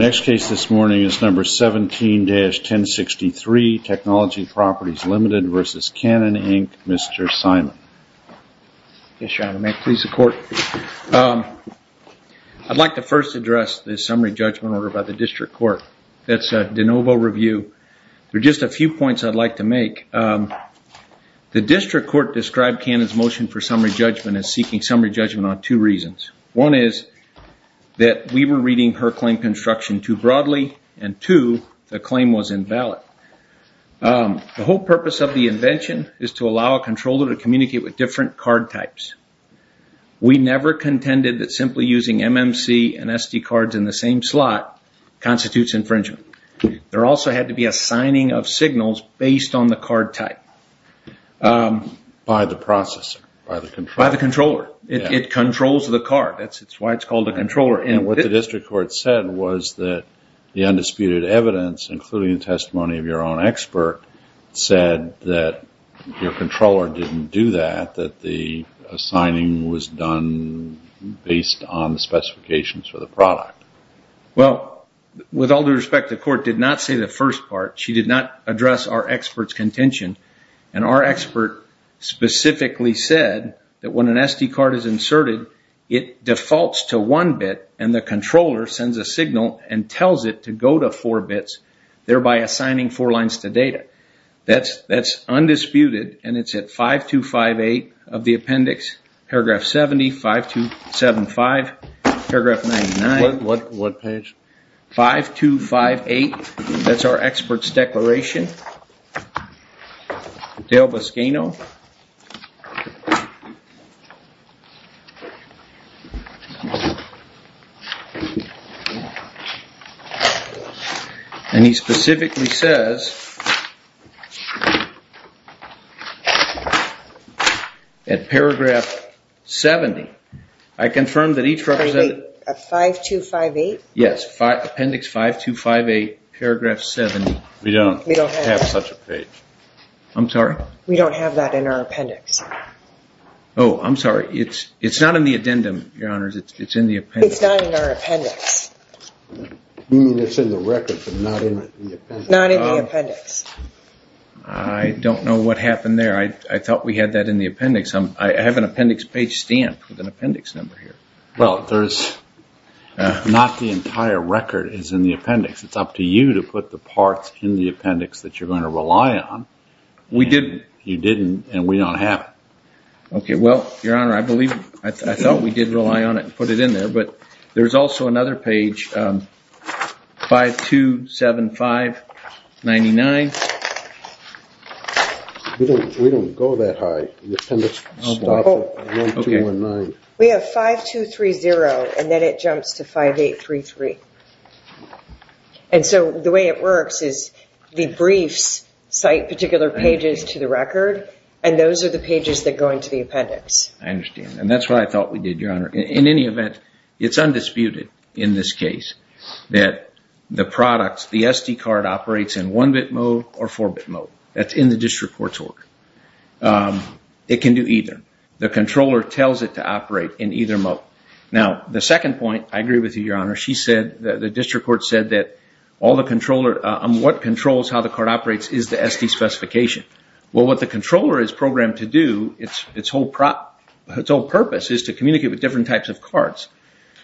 17-1063 Technology Properties Limited v. Canon Inc. Mr. Simon. Yes, Your Honor. May it please the Court. I'd like to first address the summary judgment order by the District Court. That's a de novo review. There are just a few points I'd like to make. The District Court described Canon's motion for summary judgment as seeking summary judgment on two reasons. One is that we were reading her claim construction too broadly, and two, the claim was invalid. The whole purpose of the invention is to allow a controller to communicate with different card types. We never contended that simply using MMC and SD cards in the same slot constitutes infringement. There also had to be a signing of signals based on the card type. By the processor, by the controller. By the controller. It controls the card. That's why it's called a controller. And what the District Court said was that the undisputed evidence, including the testimony of your own expert, said that your controller didn't do that, that the signing was done based on the specifications for the product. Well, with all due respect, the Court did not say the first part. She did not address our expert's contention. And our expert specifically said that when an SD card is inserted, it defaults to one bit, and the controller sends a signal and tells it to go to four bits, thereby assigning four lines to data. That's undisputed, and it's at 5258 of the appendix, paragraph 70, 5275, paragraph 99. What page? 5258, that's our expert's declaration. Dale Boschino. And he specifically says, at paragraph 70, I confirm that each representative... 5258? Yes, appendix 5258, paragraph 70. We don't have such a page. I'm sorry? We don't have that in our appendix. Oh, I'm sorry. It's not in the addendum, Your Honors. It's in the appendix. It's not in our appendix. You mean it's in the record, but not in the appendix. Not in the appendix. I don't know what happened there. I thought we had that in the appendix. I have an appendix page stamp with an appendix number here. Well, not the entire record is in the appendix. It's up to you to put the parts in the appendix that you're going to rely on. We didn't. You didn't, and we don't have it. Okay, well, Your Honor, I thought we did rely on it and put it in there, but there's also another page, 5275, 99. We don't go that high. The appendix stops at 1219. We have 5230, and then it jumps to 5833. And so the way it works is the briefs cite particular pages to the record, and those are the pages that go into the appendix. I understand, and that's what I thought we did, Your Honor. In any event, it's undisputed in this case that the product, the SD card, operates in 1-bit mode or 4-bit mode. That's in the district court's order. It can do either. The controller tells it to operate in either mode. Now, the second point, I agree with you, Your Honor. The district court said that what controls how the card operates is the SD specification. Well, what the controller is programmed to do, its whole purpose is to communicate with different types of cards.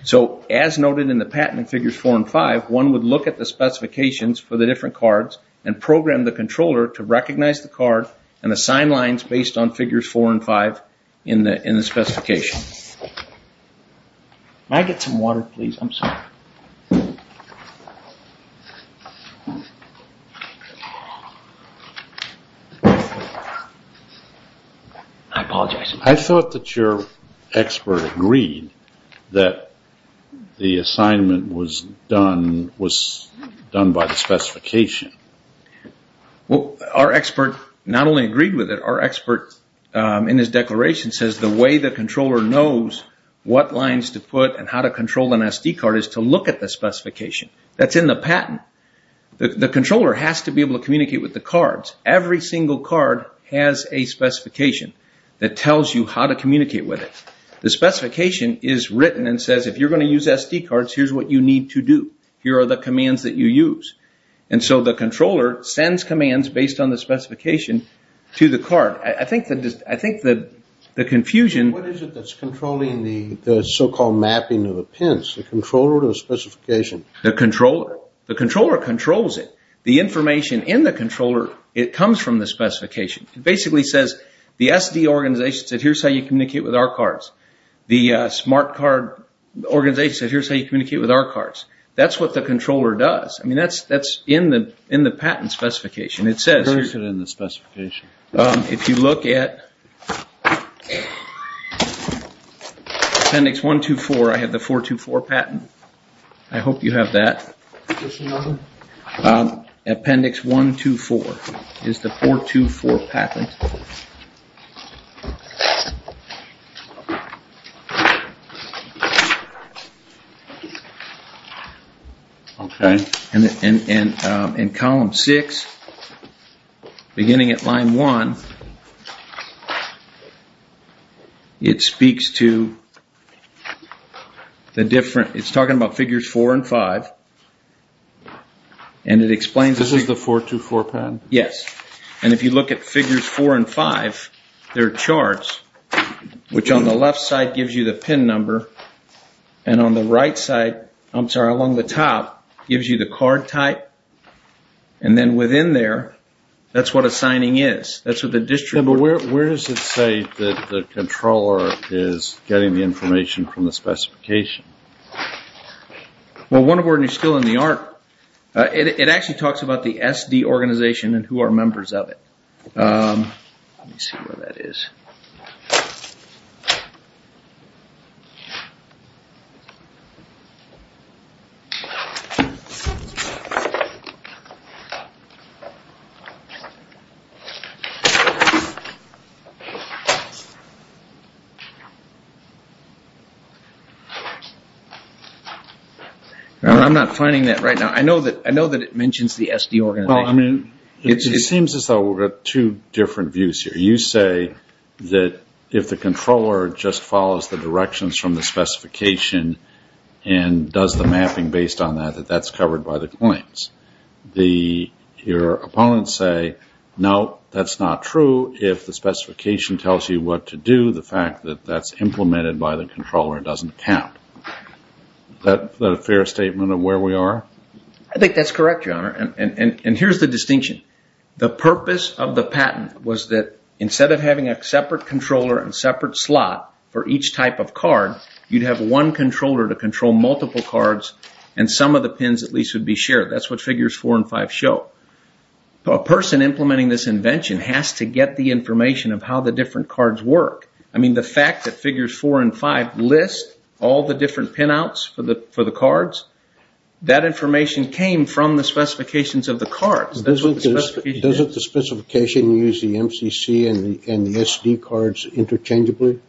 So as noted in the patent in Figures 4 and 5, one would look at the specifications for the different cards and program the controller to recognize the card and assign lines based on Figures 4 and 5 in the specification. Can I get some water, please? I'm sorry. I apologize. I thought that your expert agreed that the assignment was done by the specification. Well, our expert not only agreed with it, our expert in his declaration says the way the controller knows what lines to put and how to control an SD card is to look at the specification. That's in the patent. The controller has to be able to communicate with the cards. Every single card has a specification that tells you how to communicate with it. The specification is written and says, if you're going to use SD cards, here's what you need to do. Here are the commands that you use. And so the controller sends commands based on the specification to the card. I think the confusion… What is it that's controlling the so-called mapping of the pins? The controller or the specification? The controller. The controller controls it. The information in the controller, it comes from the specification. It basically says the SD organization said, here's how you communicate with our cards. The smart card organization said, here's how you communicate with our cards. That's what the controller does. That's in the patent specification. It says… Where is it in the specification? If you look at appendix 124, I have the 424 patent. I hope you have that. Just another? Appendix 124 is the 424 patent. Okay. In column 6, beginning at line 1, it speaks to the different… It's talking about figures 4 and 5. This is the 424 patent? Yes. And if you look at figures 4 and 5, they're charts, which on the left side gives you the pin number, and on the right side, I'm sorry, along the top, gives you the card type. And then within there, that's what a signing is. That's what the district… But where does it say that the controller is getting the information from the specification? Well, wonder where you're still in the art. It actually talks about the SD organization and who are members of it. Let me see where that is. I'm not finding that right now. I know that it mentions the SD organization. Well, I mean, it seems as though we've got two different views here. You say that if the controller just follows the directions from the specification and does the mapping based on that, that that's covered by the claims. Your opponents say, no, that's not true. If the specification tells you what to do, the fact that that's implemented by the controller doesn't count. Is that a fair statement of where we are? I think that's correct, Your Honor. And here's the distinction. The purpose of the patent was that instead of having a separate controller and separate slot for each type of card, you'd have one controller to control multiple cards and some of the pins at least would be shared. That's what Figures 4 and 5 show. A person implementing this invention has to get the information of how the different cards work. I mean, the fact that Figures 4 and 5 list all the different pinouts for the cards, that information came from the specifications of the cards. Doesn't the specification use the MCC and the SD cards interchangeably?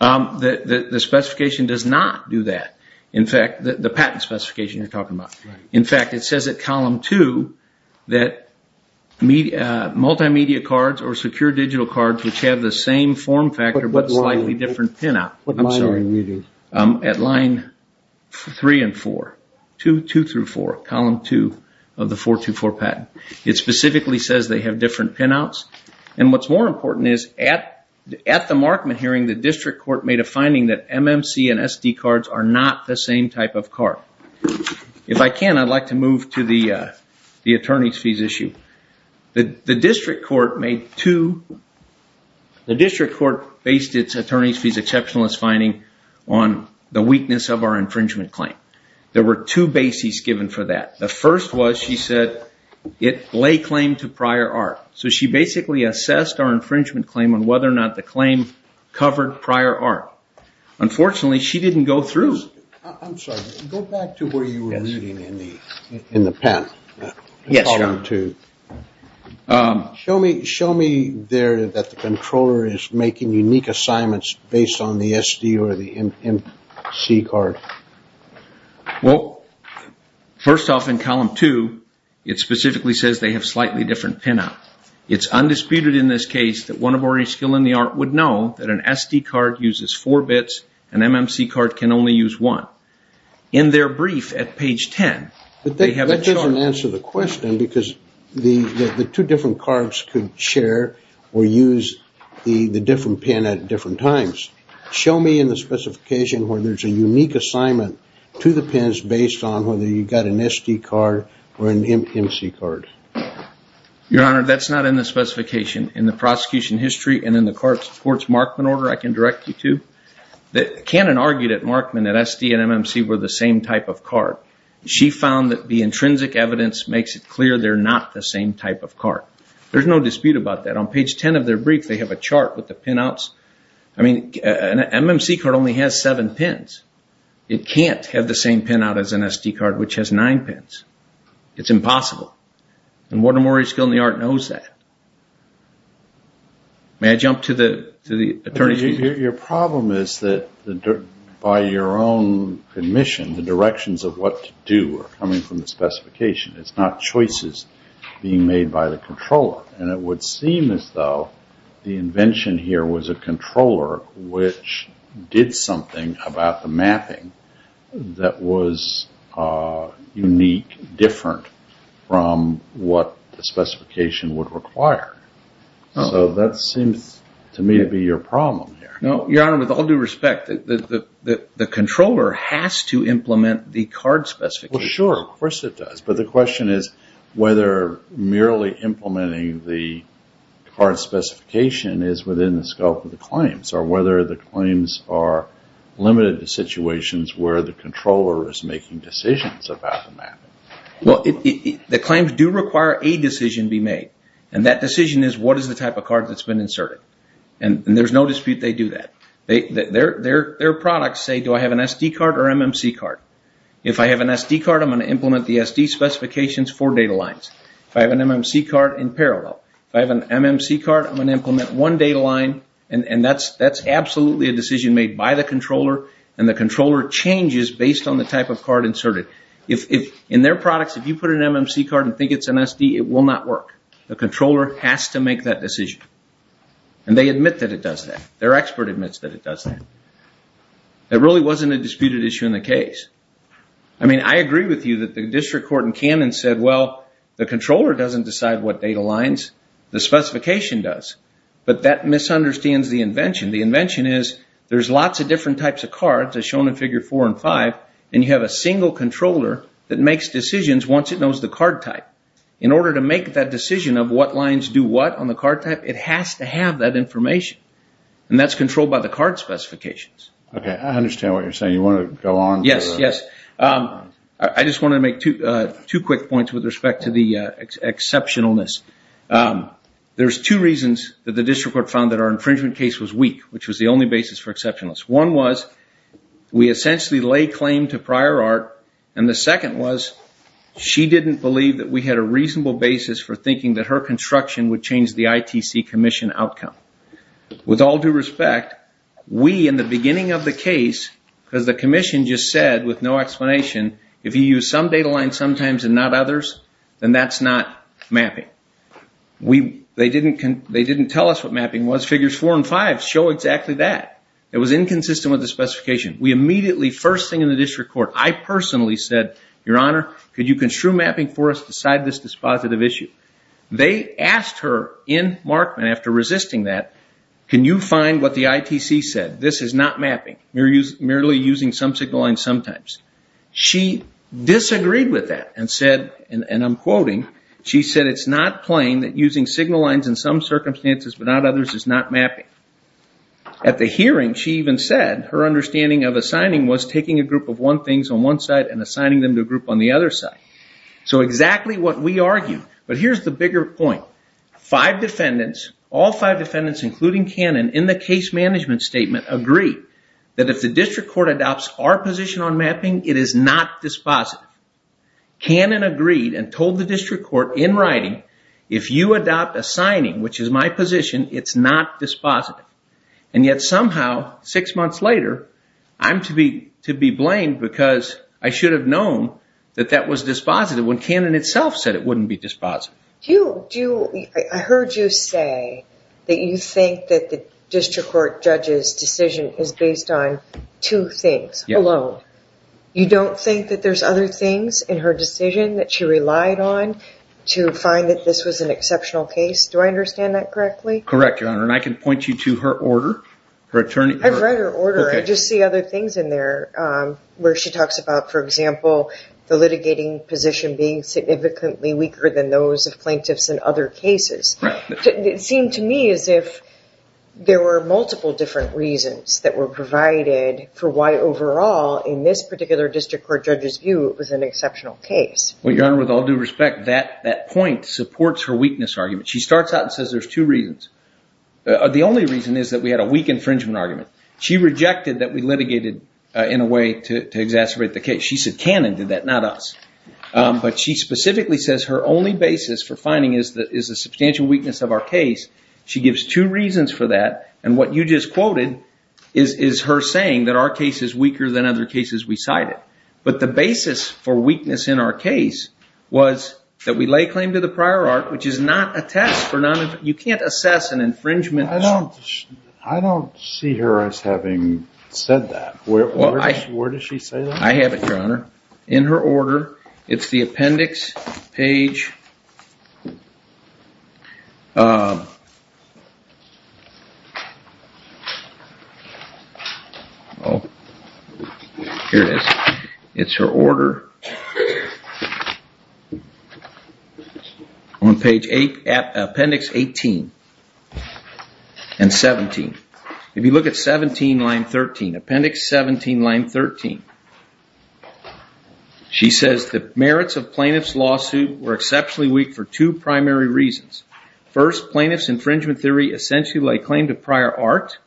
The specification does not do that. In fact, the patent specification you're talking about. In fact, it says at column 2 that multimedia cards or secure digital cards, which have the same form factor but slightly different pinout. What line are you using? At line 3 and 4, 2 through 4, column 2 of the 424 patent. It specifically says they have different pinouts. What's more important is at the Markman hearing, the district court made a finding that MMC and SD cards are not the same type of card. If I can, I'd like to move to the attorney's fees issue. The district court based its attorney's fees exceptionalist finding on the weakness of our infringement claim. There were two bases given for that. The first was she said it lay claim to prior art. So she basically assessed our infringement claim on whether or not the claim covered prior art. Unfortunately, she didn't go through. I'm sorry. Go back to where you were reading in the pen. Yes, your honor. Show me there that the controller is making unique assignments based on the SD or the MC card. Well, first off in column 2, it specifically says they have slightly different pinout. It's undisputed in this case that one of our skill in the art would know that an SD card uses four bits. An MMC card can only use one. In their brief at page 10, they have a chart. That doesn't answer the question because the two different cards could share or use the different pin at different times. Show me in the specification where there's a unique assignment to the pins based on whether you got an SD card or an MC card. Your honor, that's not in the specification. In the prosecution history and in the court's Markman order, I can direct you to. Cannon argued at Markman that SD and MMC were the same type of card. She found that the intrinsic evidence makes it clear they're not the same type of card. There's no dispute about that. On page 10 of their brief, they have a chart with the pinouts. An MMC card only has seven pins. It can't have the same pinout as an SD card which has nine pins. It's impossible. Mortimer's skill in the art knows that. May I jump to the attorney's view? Your problem is that by your own admission, the directions of what to do are coming from the specification. It's not choices being made by the controller. It would seem as though the invention here was a controller which did something about the mapping that was unique, different from what the specification would require. That seems to me to be your problem here. Your honor, with all due respect, the controller has to implement the card specification. Sure, of course it does. The question is whether merely implementing the card specification is within the scope of the claims or whether the claims are limited to situations where the controller is making decisions about the mapping. The claims do require a decision to be made. That decision is what is the type of card that's been inserted. There's no dispute they do that. Their products say, do I have an SD card or MMC card? If I have an SD card, I'm going to implement the SD specifications for data lines. If I have an MMC card, in parallel. If I have an MMC card, I'm going to implement one data line. That's absolutely a decision made by the controller, and the controller changes based on the type of card inserted. In their products, if you put an MMC card and think it's an SD, it will not work. The controller has to make that decision. They admit that it does that. Their expert admits that it does that. It really wasn't a disputed issue in the case. I agree with you that the district court in Cannon said, well, the controller doesn't decide what data lines, the specification does. But that misunderstands the invention. The invention is there's lots of different types of cards, as shown in Figure 4 and 5, and you have a single controller that makes decisions once it knows the card type. In order to make that decision of what lines do what on the card type, it has to have that information. That's controlled by the card specifications. I understand what you're saying. You want to go on? Yes. I just want to make two quick points with respect to the exceptionalness. There's two reasons that the district court found that our infringement case was weak, which was the only basis for exceptionalness. One was we essentially lay claim to prior art, and the second was she didn't believe that we had a reasonable basis for thinking that her construction would change the ITC commission outcome. With all due respect, we, in the beginning of the case, because the commission just said with no explanation, if you use some data lines sometimes and not others, then that's not mapping. They didn't tell us what mapping was. Figures 4 and 5 show exactly that. It was inconsistent with the specification. We immediately, first thing in the district court, I personally said, Your Honor, could you construe mapping for us to decide this dispositive issue? They asked her in Markman after resisting that, can you find what the ITC said? This is not mapping. You're merely using some signal lines sometimes. She disagreed with that and said, and I'm quoting, she said it's not plain that using signal lines in some circumstances but not others is not mapping. At the hearing, she even said her understanding of assigning was taking a group of one thing on one side and assigning them to a group on the other side. So exactly what we argued. But here's the bigger point. Five defendants, all five defendants, including Cannon, in the case management statement, agreed that if the district court adopts our position on mapping, it is not dispositive. Cannon agreed and told the district court in writing, if you adopt assigning, which is my position, it's not dispositive. And yet somehow, six months later, I'm to be blamed because I should have known that that was dispositive when Cannon itself said it wouldn't be dispositive. I heard you say that you think that the district court judge's decision is based on two things alone. You don't think that there's other things in her decision that she relied on to find that this was an exceptional case? Do I understand that correctly? Correct, Your Honor, and I can point you to her order. I've read her order. I just see other things in there where she talks about, for example, the litigating position being significantly weaker than those of plaintiffs in other cases. It seemed to me as if there were multiple different reasons that were provided for why overall, in this particular district court judge's view, it was an exceptional case. Well, Your Honor, with all due respect, that point supports her weakness argument. She starts out and says there's two reasons. The only reason is that we had a weak infringement argument. She rejected that we litigated in a way to exacerbate the case. She said Cannon did that, not us. But she specifically says her only basis for finding is the substantial weakness of our case. She gives two reasons for that, and what you just quoted is her saying that our case is weaker than other cases we cited. But the basis for weakness in our case was that we lay claim to the prior art, which is not a test. You can't assess an infringement. I don't see her as having said that. Where does she say that? I have it, Your Honor, in her order. It's the appendix page. Here it is. It's her order. On page 8, appendix 18 and 17. If you look at 17, line 13, appendix 17, line 13, she says the merits of plaintiff's lawsuit were exceptionally weak for two primary reasons. First, plaintiff's infringement theory essentially lay claim to prior art.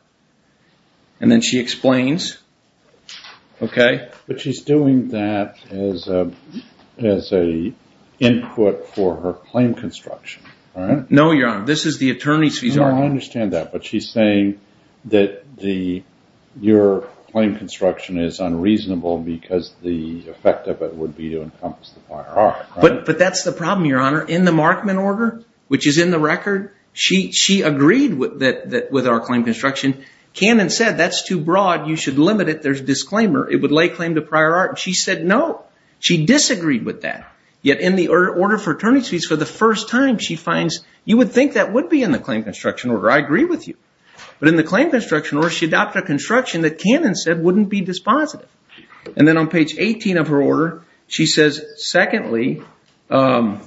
And then she explains. Okay. But she's doing that as an input for her claim construction, right? This is the attorney's visa. I understand that, but she's saying that your claim construction is unreasonable because the effect of it would be to encompass the prior art, right? But that's the problem, Your Honor. In the Markman order, which is in the record, she agreed with our claim construction. Cannon said that's too broad. You should limit it. There's disclaimer. It would lay claim to prior art. She said no. She disagreed with that. Yet in the order for attorney's fees, for the first time, she finds you would think that would be in the claim construction order. I agree with you. But in the claim construction order, she adopted a construction that Cannon said wouldn't be dispositive. And then on page 18 of her order, she says, secondly, that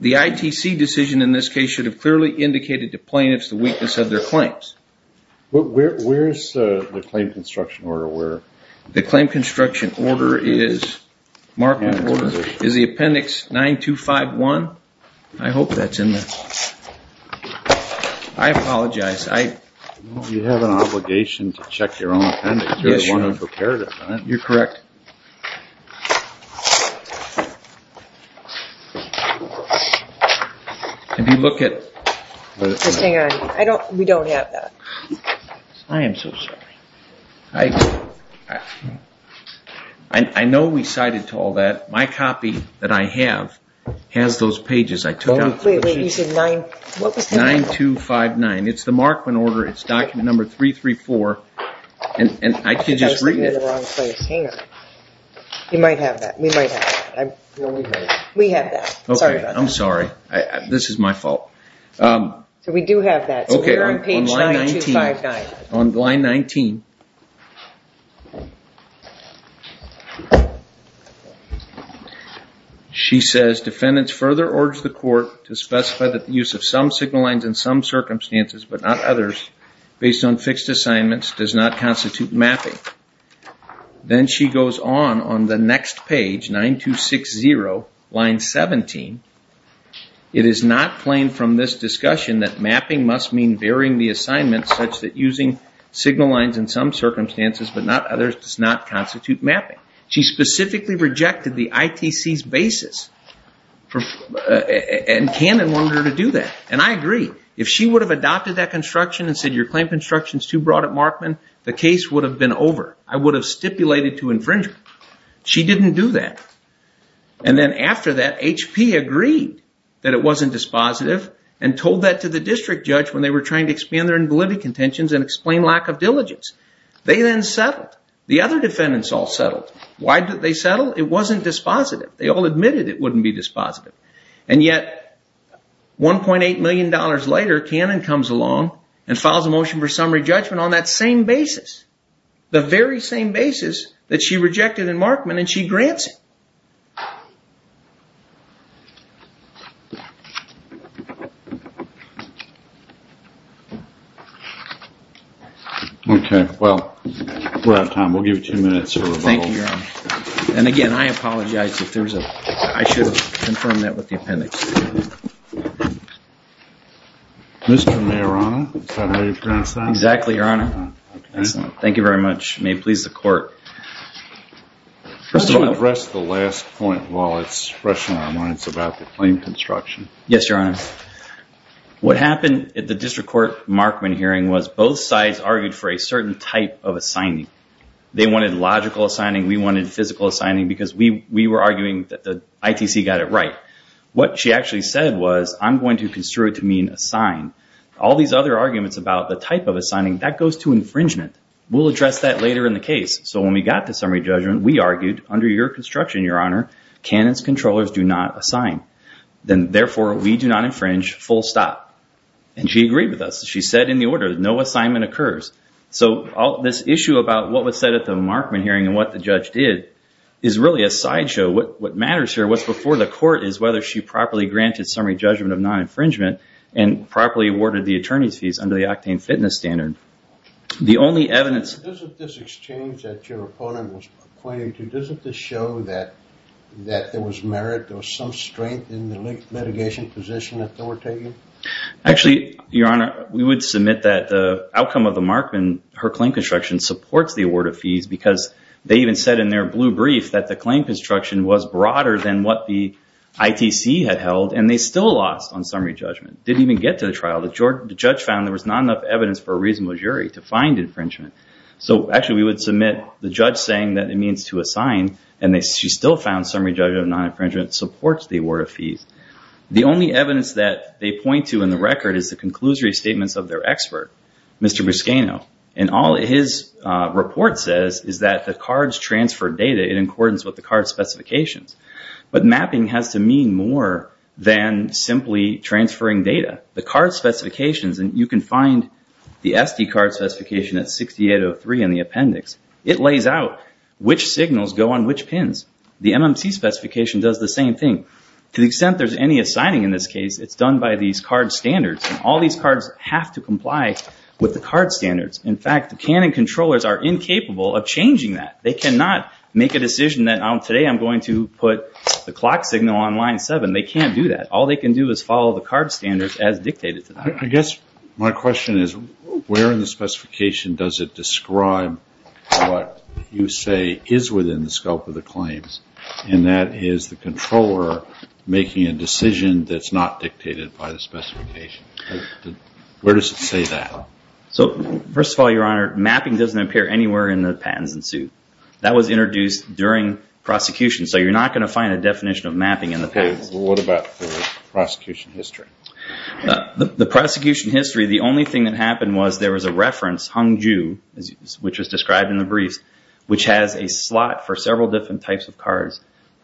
the ITC decision in this case should have clearly indicated to plaintiffs the weakness of their claims. Where's the claim construction order? The claim construction order is, Markman order, is the appendix 9251. I hope that's in there. I apologize. You have an obligation to check your own appendix. You're the one who prepared it, right? You're correct. If you look at... Just hang on. We don't have that. I am so sorry. I know we cited to all that. My copy that I have has those pages. 9259. It's the Markman order. It's document number 334. And I could just read it. Hang on. You might have that. We might have that. We have that. Sorry about that. I'm sorry. This is my fault. We do have that. You're on page 9259. On line 19. She says, defendants further urge the court to specify that the use of some signal lines in some circumstances, but not others, based on fixed assignments, does not constitute mapping. Then she goes on on the next page, 9260, line 17. It is not plain from this discussion that mapping must mean varying the signal lines in some circumstances, but not others, does not constitute mapping. She specifically rejected the ITC's basis. And Cannon wanted her to do that. And I agree. If she would have adopted that construction and said your claim construction is too broad at Markman, the case would have been over. I would have stipulated to infringement. She didn't do that. And then after that, HP agreed that it wasn't dispositive and told that to explain lack of diligence. They then settled. The other defendants all settled. Why did they settle? It wasn't dispositive. They all admitted it wouldn't be dispositive. And yet, $1.8 million later, Cannon comes along and files a motion for summary judgment on that same basis. The very same basis that she rejected in Markman and she grants it. Okay. Well, we're out of time. We'll give you two minutes for rebuttal. Thank you, Your Honor. And again, I apologize. I should have confirmed that with the appendix. Mr. Mayor, Your Honor, is that how you pronounce that? Exactly, Your Honor. Excellent. Thank you very much. May it please the Court. Just to address the last point while it's fresh in our minds about the claim construction. Yes, Your Honor. What happened at the District Court Markman hearing was both sides argued for a certain type of assigning. They wanted logical assigning. We wanted physical assigning because we were arguing that the ITC got it right. What she actually said was, I'm going to construe it to mean assign. All these other arguments about the type of assigning, that goes to infringement. We'll address that later in the case. So when we got to summary judgment, we argued under your construction, Your Honor, Cannon's controllers do not assign. Then, therefore, we do not infringe, full stop. And she agreed with us. She said in the order, no assignment occurs. So this issue about what was said at the Markman hearing and what the judge did is really a sideshow. What matters here, what's before the Court, is whether she properly granted summary judgment of non-infringement and properly awarded the attorney's fees under the octane fitness standard. The only evidence... Doesn't this exchange that your opponent was pointing to, doesn't this show that there was merit, there was some strength in the litigation position that they were taking? Actually, Your Honor, we would submit that the outcome of the Markman, her claim construction, supports the award of fees because they even said in their blue brief that the claim construction was broader than what the ITC had held, and they still lost on summary judgment. Didn't even get to the trial. The judge found there was not enough evidence for a reasonable jury to find infringement. So actually we would submit the judge saying that it means to assign, and she still found summary judgment of non-infringement. Supports the award of fees. The only evidence that they point to in the record is the conclusory statements of their expert, Mr. Buscaino. And all his report says is that the cards transferred data in accordance with the card specifications. But mapping has to mean more than simply transferring data. The card specifications, and you can find the SD card specification at 6803 in the appendix. It lays out which signals go on which pins. The MMC specification does the same thing. To the extent there's any assigning in this case, it's done by these card standards. And all these cards have to comply with the card standards. In fact, the Canon controllers are incapable of changing that. They cannot make a decision that today I'm going to put the clock signal on line 7. They can't do that. All they can do is follow the card standards as dictated to them. I guess my question is where in the specification does it describe what you that is the controller making a decision that's not dictated by the specification? Where does it say that? First of all, Your Honor, mapping doesn't appear anywhere in the patents and suit. That was introduced during prosecution. So you're not going to find a definition of mapping in the patents. Okay. What about the prosecution history? The prosecution history, the only thing that happened was there was a reference, Hung Ju, which was described in the briefs, which has a slot for several different types of cards.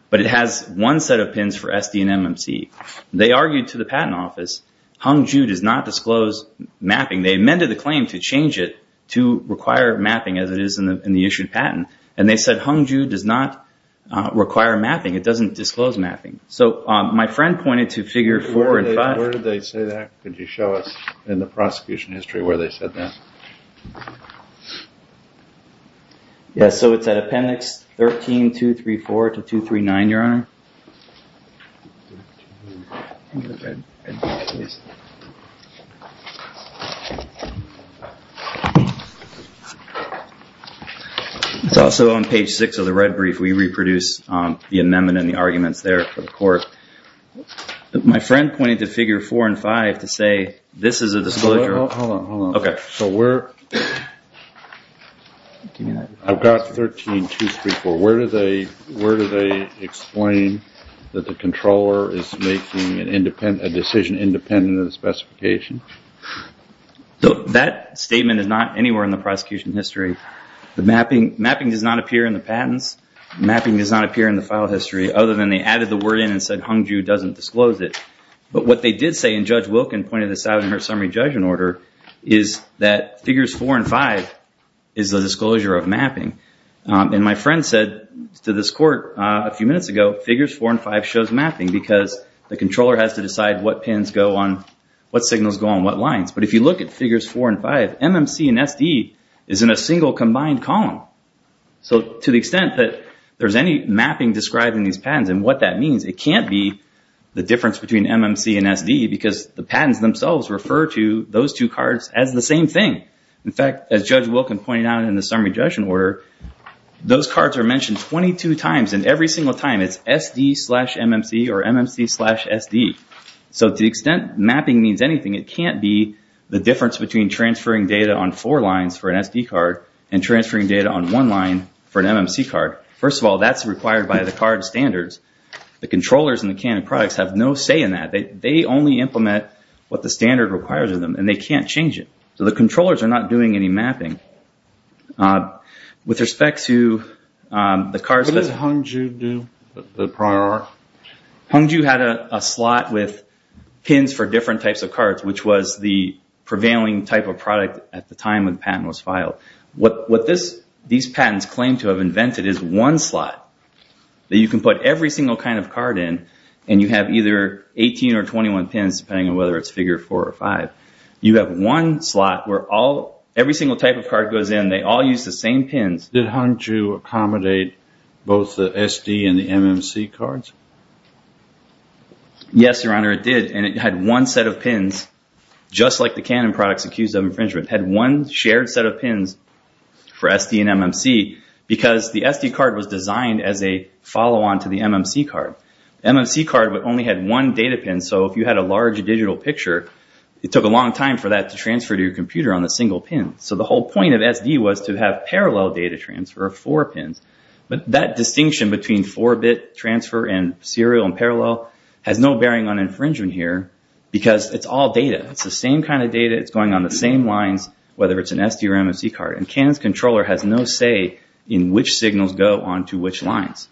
But it has one set of pins for SD and MMC. They argued to the patent office, Hung Ju does not disclose mapping. They amended the claim to change it to require mapping as it is in the issued patent. And they said Hung Ju does not require mapping. It doesn't disclose mapping. So my friend pointed to figure 4 and 5. Where did they say that? Could you show us in the prosecution history where they said that? Yes. So it's at appendix 13234 to 239, Your Honor. It's also on page 6 of the red brief. We reproduce the amendment and the arguments there for the court. My friend pointed to figure 4 and 5 to say this is a disclosure. Hold on, hold on. I've got 13234. Where do they explain that the controller is making a decision independent of the specification? That statement is not anywhere in the prosecution history. The mapping does not appear in the patents. The mapping does not appear in the file history other than they added the word in and said Hung Ju doesn't disclose it. But what they did say, and Judge Wilkin pointed this out in her primary judgment order, is that figures 4 and 5 is a disclosure of mapping. And my friend said to this court a few minutes ago, figures 4 and 5 shows mapping because the controller has to decide what signals go on what lines. But if you look at figures 4 and 5, MMC and SD is in a single combined column. So to the extent that there's any mapping described in these patents and what that means, it can't be the difference between MMC and SD because the patents themselves refer to those two cards as the same thing. In fact, as Judge Wilkin pointed out in the summary judgment order, those cards are mentioned 22 times and every single time it's SD slash MMC or MMC slash SD. So to the extent mapping means anything, it can't be the difference between transferring data on four lines for an SD card and transferring data on one line for an MMC card. First of all, that's required by the card standards. The controllers in the Canon products have no say in that. They only implement what the standard requires of them, and they can't change it. So the controllers are not doing any mapping. With respect to the cards that- What did Hung Ju do? Hung Ju had a slot with pins for different types of cards, which was the prevailing type of product at the time when the patent was filed. What these patents claim to have invented is one slot that you can put every single kind of card in, and you have either 18 or 21 pins, depending on whether it's figure four or five. You have one slot where every single type of card goes in. They all use the same pins. Did Hung Ju accommodate both the SD and the MMC cards? Yes, Your Honor, it did, and it had one set of pins, just like the Canon products accused of infringement, had one shared set of pins for SD and MMC because the SD card was designed as a follow-on to the MMC card. The MMC card only had one data pin, so if you had a large digital picture, it took a long time for that to transfer to your computer on a single pin. So the whole point of SD was to have parallel data transfer of four pins. But that distinction between four-bit transfer and serial and parallel has no bearing on infringement here because it's all data. It's the same kind of data. It's going on the same lines, whether it's an SD or MMC card. And Canon's controller has no say in which signals go on to which lines.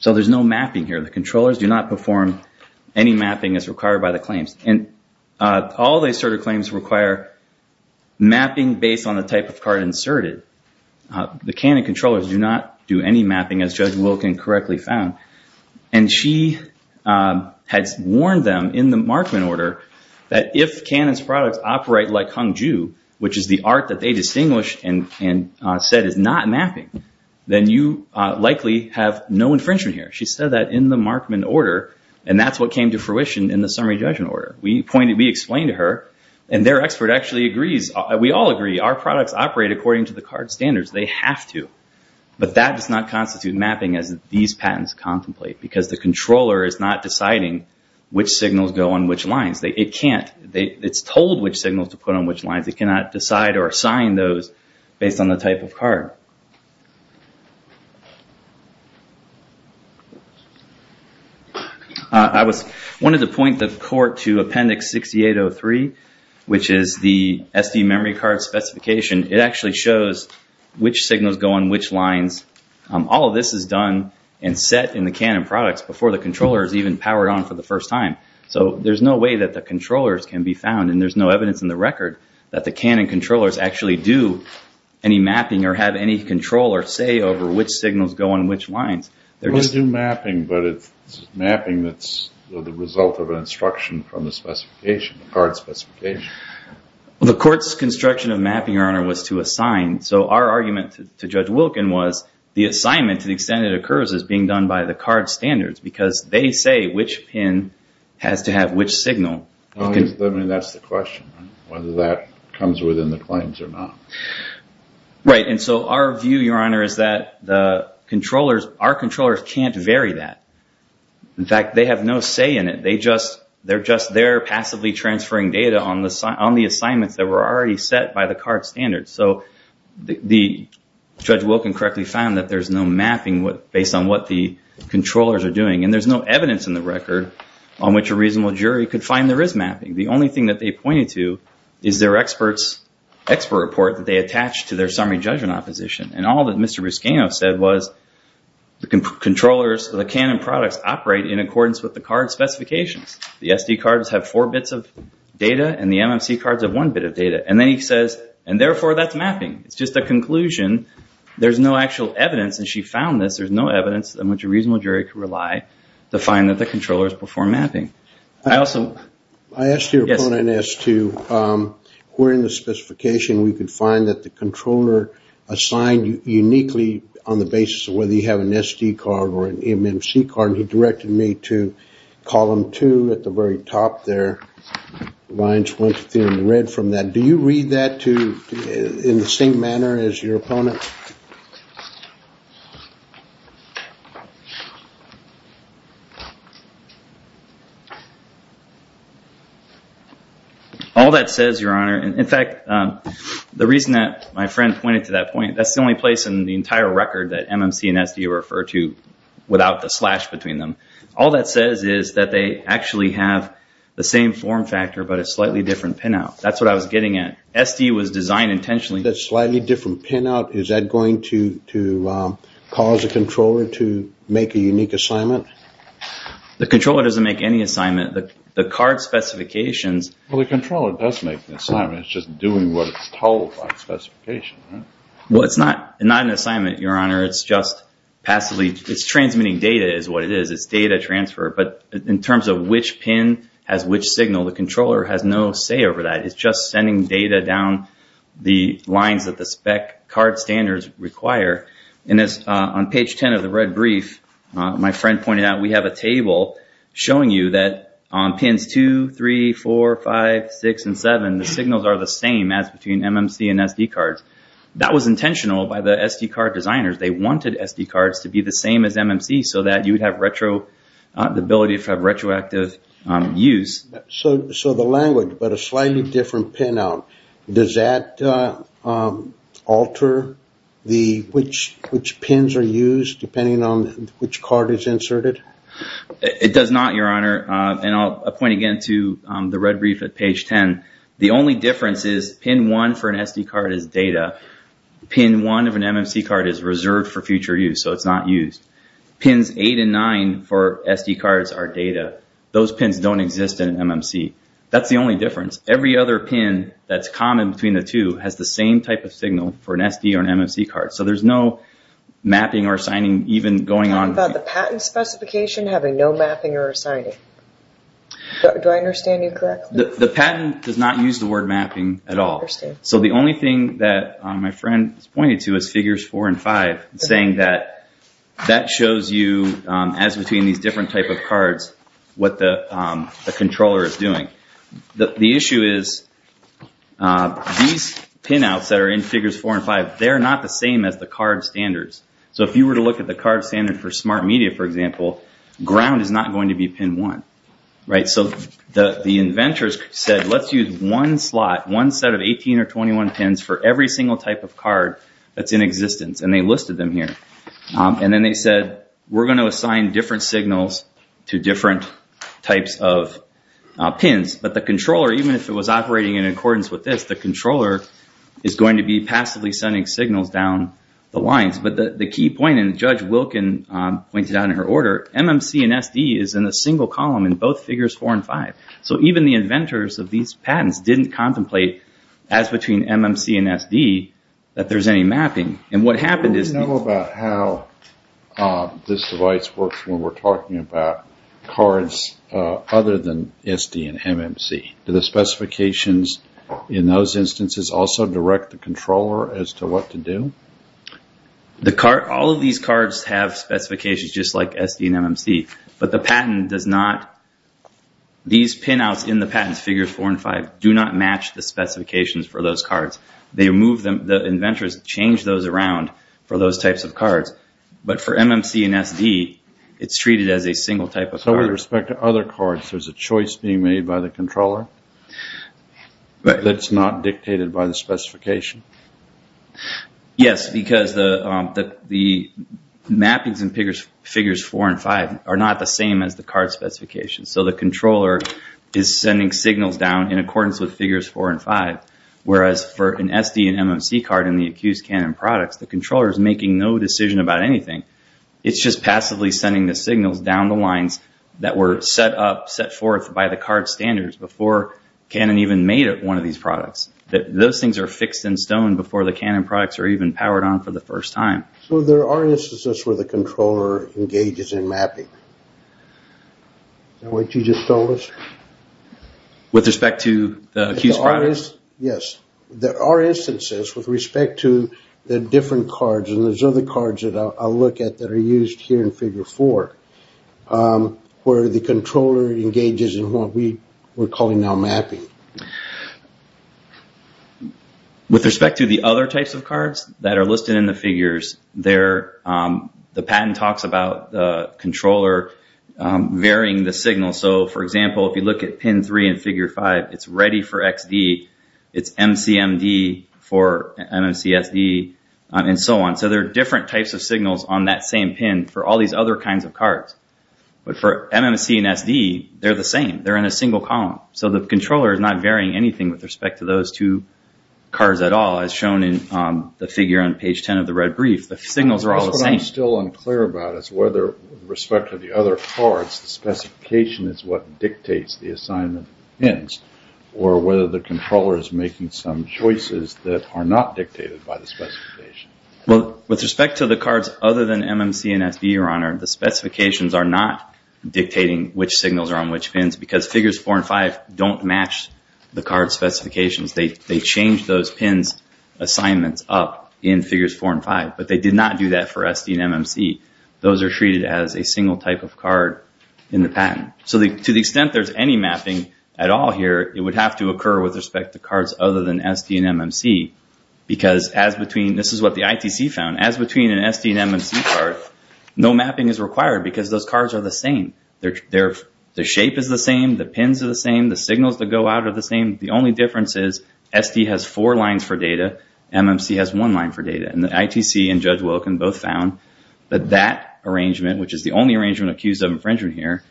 So there's no mapping here. The controllers do not perform any mapping as required by the claims. And all the asserted claims require mapping based on the type of card inserted. The Canon controllers do not do any mapping, as Judge Wilkin correctly found. And she had warned them in the Markman order that if Canon's products operate like Hang Ju, which is the art that they distinguished and said is not mapping, then you likely have no infringement here. She said that in the Markman order, and that's what came to fruition in the summary judgment order. We explained to her, and their expert actually agrees. We all agree our products operate according to the card standards. They have to. But that does not constitute mapping as these patents contemplate because the controller is not deciding which signals go on which lines. It can't. It's told which signals to put on which lines. It cannot decide or assign those based on the type of card. I wanted to point the court to Appendix 6803, which is the SD memory card specification. It actually shows which signals go on which lines. All of this is done and set in the Canon products before the controller is even powered on for the first time. So there's no way that the controllers can be found, and there's no evidence in the record that the Canon controllers actually do any mapping or have any control or say over which signals go on which lines. They do mapping, but it's mapping that's the result of an instruction from the specification, the card specification. The court's construction of mapping, Your Honor, was to assign. So our argument to Judge Wilkin was the assignment, to the extent it occurs, is being done by the card standards because they say which pin has to have which signal. I mean, that's the question, whether that comes within the claims or not. Right, and so our view, Your Honor, is that the controllers, our controllers can't vary that. In fact, they have no say in it. They're just there passively transferring data on the assignments that were already set by the card standards. So Judge Wilkin correctly found that there's no mapping based on what the controllers are doing, and there's no evidence in the record on which a reasonable jury could find there is mapping. The only thing that they pointed to is their expert report that they attached to their summary judgment opposition. And all that Mr. Ruscano said was the controllers, the Canon products, operate in accordance with the card specifications. The SD cards have four bits of data, and the MMC cards have one bit of data. And then he says, and therefore that's mapping. It's just a conclusion. There's no actual evidence, and she found this. There's no evidence on which a reasonable jury could rely to find that the controllers perform mapping. I asked your opponent as to where in the specification we could find that the controller assigned uniquely on the basis of whether you have an SD card or an MMC card, and he directed me to column two at the very top there. Do you read that in the same manner as your opponent? All that says, Your Honor, in fact, the reason that my friend pointed to that point, that's the only place in the entire record that MMC and SD are referred to without the slash between them. All that says is that they actually have the same form factor but a slightly different pinout. That's what I was getting at. SD was designed intentionally. That slightly different pinout, is that going to cause a controller to make a unique assignment? The controller doesn't make any assignment. The card specifications. Well, the controller does make the assignment. It's just doing what it's told by the specification, right? Well, it's not an assignment, Your Honor. It's just passively. It's transmitting data is what it is. It's data transfer. But in terms of which pin has which signal, the controller has no say over that. It's just sending data down the lines that the spec card standards require. And on page 10 of the red brief, my friend pointed out we have a table showing you that on pins 2, 3, 4, 5, 6, and 7, the signals are the same as between MMC and SD cards. That was intentional by the SD card designers. They wanted SD cards to be the same as MMC so that you would have the ability to have retroactive use. So the language, but a slightly different pinout, does that alter which pins are used depending on which card is inserted? It does not, Your Honor. And I'll point again to the red brief at page 10. The only difference is pin 1 for an SD card is data. Pin 1 of an MMC card is reserved for future use, so it's not used. Pins 8 and 9 for SD cards are data. Those pins don't exist in an MMC. That's the only difference. Every other pin that's common between the two has the same type of signal for an SD or an MMC card. So there's no mapping or assigning even going on. Talking about the patent specification having no mapping or assigning. Do I understand you correctly? The patent does not use the word mapping at all. So the only thing that my friend has pointed to is figures 4 and 5, saying that that shows you, as between these different types of cards, what the controller is doing. The issue is these pinouts that are in figures 4 and 5, they're not the same as the card standards. So if you were to look at the card standard for smart media, for example, ground is not going to be pin 1. So the inventors said, let's use one slot, one set of 18 or 21 pins for every single type of card that's in existence, and they listed them here. And then they said, we're going to assign different signals to different types of pins. But the controller, even if it was operating in accordance with this, the controller is going to be passively sending signals down the lines. But the key point, and Judge Wilkin pointed out in her order, MMC and SD is in a single column in both figures 4 and 5. So even the inventors of these patents didn't contemplate, as between MMC and SD, that there's any mapping. And what happened is... Do we know about how this device works when we're talking about cards other than SD and MMC? Do the specifications in those instances also direct the controller as to what to do? All of these cards have specifications just like SD and MMC. But the patent does not... These pinouts in the patents, figures 4 and 5, do not match the specifications for those cards. The inventors changed those around for those types of cards. But for MMC and SD, it's treated as a single type of card. So with respect to other cards, there's a choice being made by the controller that's not dictated by the specification? Yes, because the mappings in figures 4 and 5 are not the same as the card specifications. So the controller is sending signals down in accordance with figures 4 and 5, whereas for an SD and MMC card in the accused Canon products, the controller is making no decision about anything. It's just passively sending the signals down the lines that were set up, set forth by the card standards before Canon even made one of these products. Those things are fixed in stone before the Canon products are even powered on for the first time. So there are instances where the controller engages in mapping. Is that what you just told us? With respect to the accused products? Yes. There are instances with respect to the different cards, and there's other cards that I'll look at that are used here in figure 4, where the controller engages in what we're calling now mapping. With respect to the other types of cards that are listed in the figures, the patent talks about the controller varying the signal. So, for example, if you look at pin 3 in figure 5, it's ready for XD, it's MCMD for MMC SD, and so on. So there are different types of signals on that same pin for all these other kinds of cards. But for MMC and SD, they're the same. They're in a single column. So the controller is not varying anything with respect to those two cards at all, as shown in the figure on page 10 of the red brief. The signals are all the same. What I'm still unclear about is whether, with respect to the other cards, the specification is what dictates the assignment of the pins, or whether the controller is making some choices that are not dictated by the specification. With respect to the cards other than MMC and SD, Your Honor, the specifications are not dictating which signals are on which pins, because figures 4 and 5 don't match the card specifications. They change those pins' assignments up in figures 4 and 5. But they did not do that for SD and MMC. Those are treated as a single type of card in the patent. So to the extent there's any mapping at all here, it would have to occur with respect to cards other than SD and MMC, because as between—this is what the ITC found— as between an SD and MMC card, no mapping is required, because those cards are the same. The shape is the same. The pins are the same. The signals that go out are the same. The only difference is SD has four lines for data. MMC has one line for data. And the ITC and Judge Wilkin both found that that arrangement, which is the only arrangement accused of infringement here,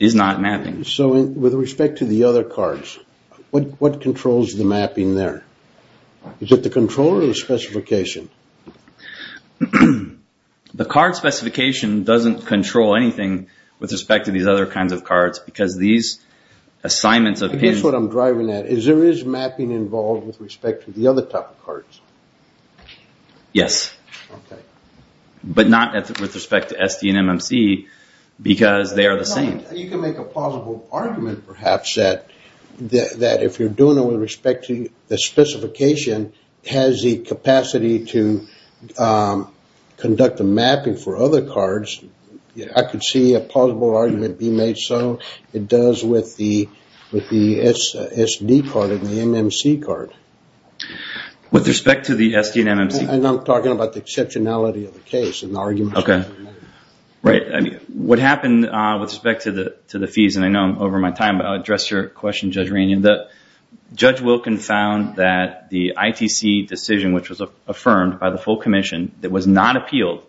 is not mapping. So with respect to the other cards, what controls the mapping there? Is it the controller or the specification? The card specification doesn't control anything with respect to these other kinds of cards, because these assignments of pins— I guess what I'm driving at is there is mapping involved with respect to the other type of cards. Yes. But not with respect to SD and MMC, because they are the same. You can make a plausible argument, perhaps, that if you're doing it with respect to the specification, it has the capacity to conduct the mapping for other cards. I could see a plausible argument being made so. It does with the SD card and the MMC card. With respect to the SD and MMC? I'm talking about the exceptionality of the case and the argument. Okay. Right. What happened with respect to the fees, and I know I'm over my time, but I'll address your question, Judge Ranian. Judge Wilkin found that the ITC decision, which was affirmed by the full commission, that was not appealed.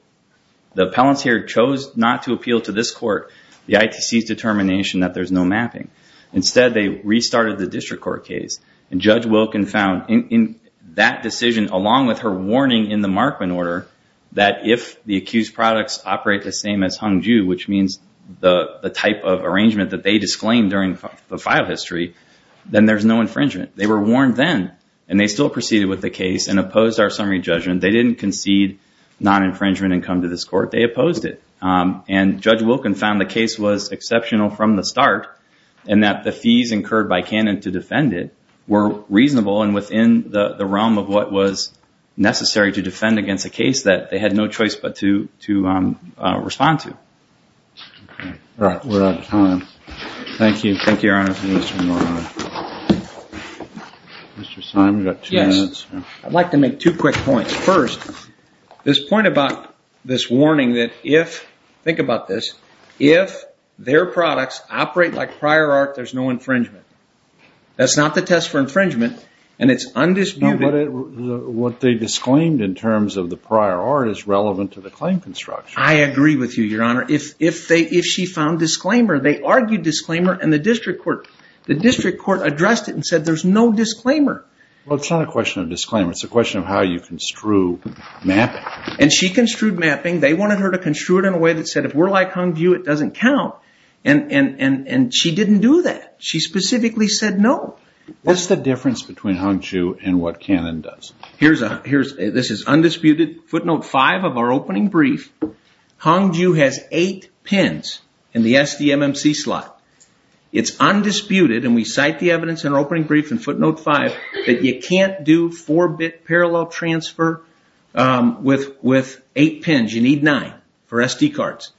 The appellants here chose not to appeal to this court the ITC's determination that there's no mapping. Instead, they restarted the district court case, and Judge Wilkin found in that decision, along with her warning in the Markman order, that if the accused products operate the same as Hangzhou, which means the type of arrangement that they disclaimed during the file history, then there's no infringement. They were warned then, and they still proceeded with the case and opposed our summary judgment. They didn't concede non-infringement and come to this court. They opposed it. Judge Wilkin found the case was exceptional from the start and that the fees incurred by Canon to defend it were reasonable and within the realm of what was necessary to defend against a case that they had no choice but to respond to. All right, we're out of time. Thank you. Thank you, Your Honor. Mr. Simon, you've got two minutes. Yes, I'd like to make two quick points. First, this point about this warning that if, think about this, if their products operate like prior art, there's no infringement. That's not the test for infringement, and it's undisputed. No, but what they disclaimed in terms of the prior art is relevant to the claim construction. I agree with you, Your Honor. If she found disclaimer, they argued disclaimer, and the district court addressed it and said there's no disclaimer. Well, it's not a question of disclaimer. It's a question of how you construe mapping. And she construed mapping. They wanted her to construe it in a way that said, if we're like Hung View, it doesn't count. And she didn't do that. She specifically said no. What's the difference between Hung View and what Canon does? This is undisputed. Footnote 5 of our opening brief, Hung View has 8 pins in the SDMMC slot. It's undisputed, and we cite the evidence in our opening brief in footnote 5 that you can't do 4-bit parallel transfer with 8 pins. You need 9 for SD cards.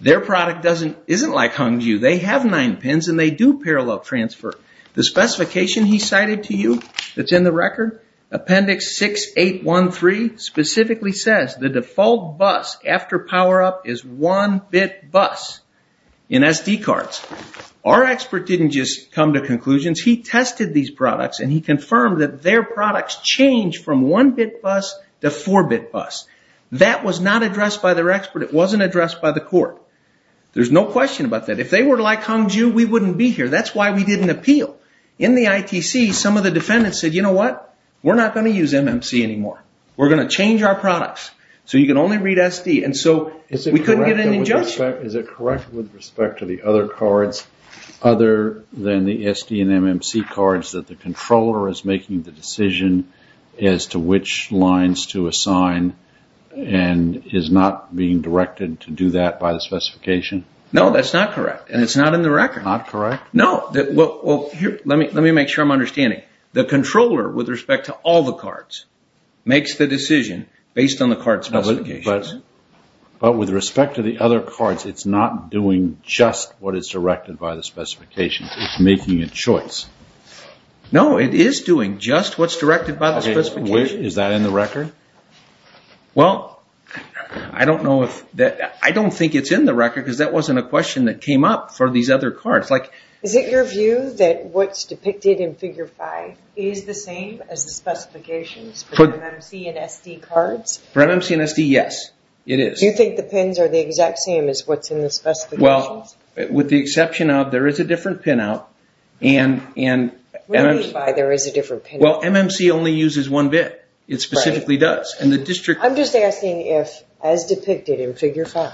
Their product isn't like Hung View. They have 9 pins, and they do parallel transfer. The specification he cited to you that's in the record, appendix 6813, specifically says the default bus after power-up is 1-bit bus in SD cards. Our expert didn't just come to conclusions. He tested these products, and he confirmed that their products changed from 1-bit bus to 4-bit bus. That was not addressed by their expert. It wasn't addressed by the court. There's no question about that. If they were like Hung View, we wouldn't be here. That's why we didn't appeal. In the ITC, some of the defendants said, you know what, we're not going to use MMC anymore. We're going to change our products. You can only read SD. We couldn't get an injunction. Is it correct with respect to the other cards other than the SD and MMC cards that the controller is making the decision as to which lines to assign and is not being directed to do that by the specification? No, that's not correct, and it's not in the record. Not correct? No. Well, let me make sure I'm understanding. The controller, with respect to all the cards, makes the decision based on the card specifications. But with respect to the other cards, it's not doing just what is directed by the specification. It's making a choice. No, it is doing just what's directed by the specification. Is that in the record? Well, I don't think it's in the record because that wasn't a question that Is it your view that what's depicted in Figure 5 is the same as the specifications for MMC and SD cards? For MMC and SD, yes, it is. Do you think the pins are the exact same as what's in the specifications? Well, with the exception of there is a different pinout. What do you mean by there is a different pinout? Well, MMC only uses one bit. It specifically does. I'm just asking if, as depicted in Figure 5,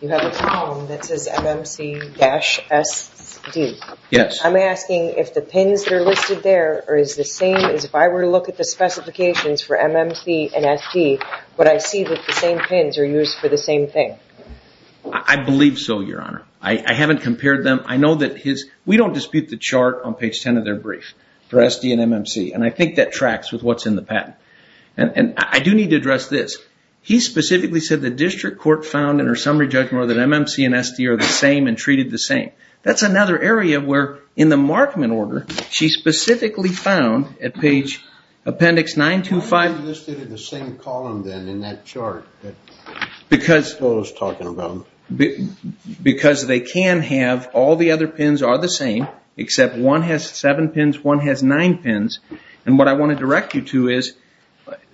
you have a column that says MMC-SD. Yes. I'm asking if the pins that are listed there is the same as if I were to look at the specifications for MMC and SD, would I see that the same pins are used for the same thing? I believe so, Your Honor. I haven't compared them. I know that we don't dispute the chart on page 10 of their brief for SD and MMC, and I think that tracks with what's in the patent. And I do need to address this. He specifically said the district court found, in her summary judgment, that MMC and SD are the same and treated the same. That's another area where, in the Markman order, she specifically found at page appendix 925. Why are they listed in the same column, then, in that chart? Because they can have all the other pins are the same, except one has seven pins, one has nine pins. And what I want to direct you to is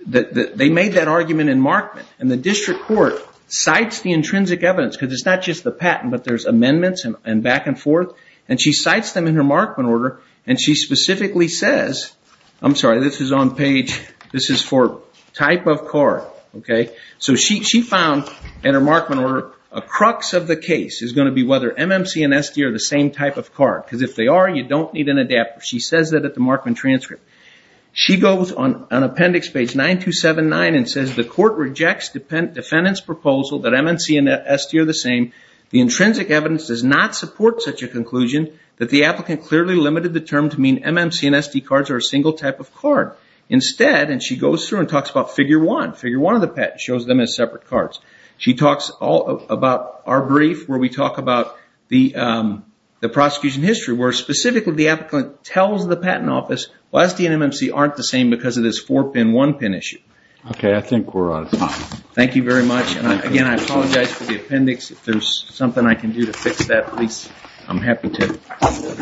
they made that argument in Markman, and the district court cites the intrinsic evidence, because it's not just the patent, but there's amendments and back and forth, and she cites them in her Markman order, and she specifically says, I'm sorry, this is on page, this is for type of card, okay? So she found, in her Markman order, a crux of the case is going to be whether MMC and SD are the same type of card, because if they are, you don't need an adapter. She says that at the Markman transcript. She goes on appendix page 9279 and says, the court rejects defendant's proposal that MMC and SD are the same. The intrinsic evidence does not support such a conclusion that the applicant clearly limited the term to mean MMC and SD cards are a single type of card. Instead, and she goes through and talks about figure one, figure one of the patent, shows them as separate cards. She talks about our brief, where we talk about the prosecution history, where specifically the applicant tells the patent office, well, SD and MMC aren't the same because of this four-pin, one-pin issue. Okay, I think we're out of time. Thank you very much, and again, I apologize for the appendix. If there's something I can do to fix that, please, I'm happy to.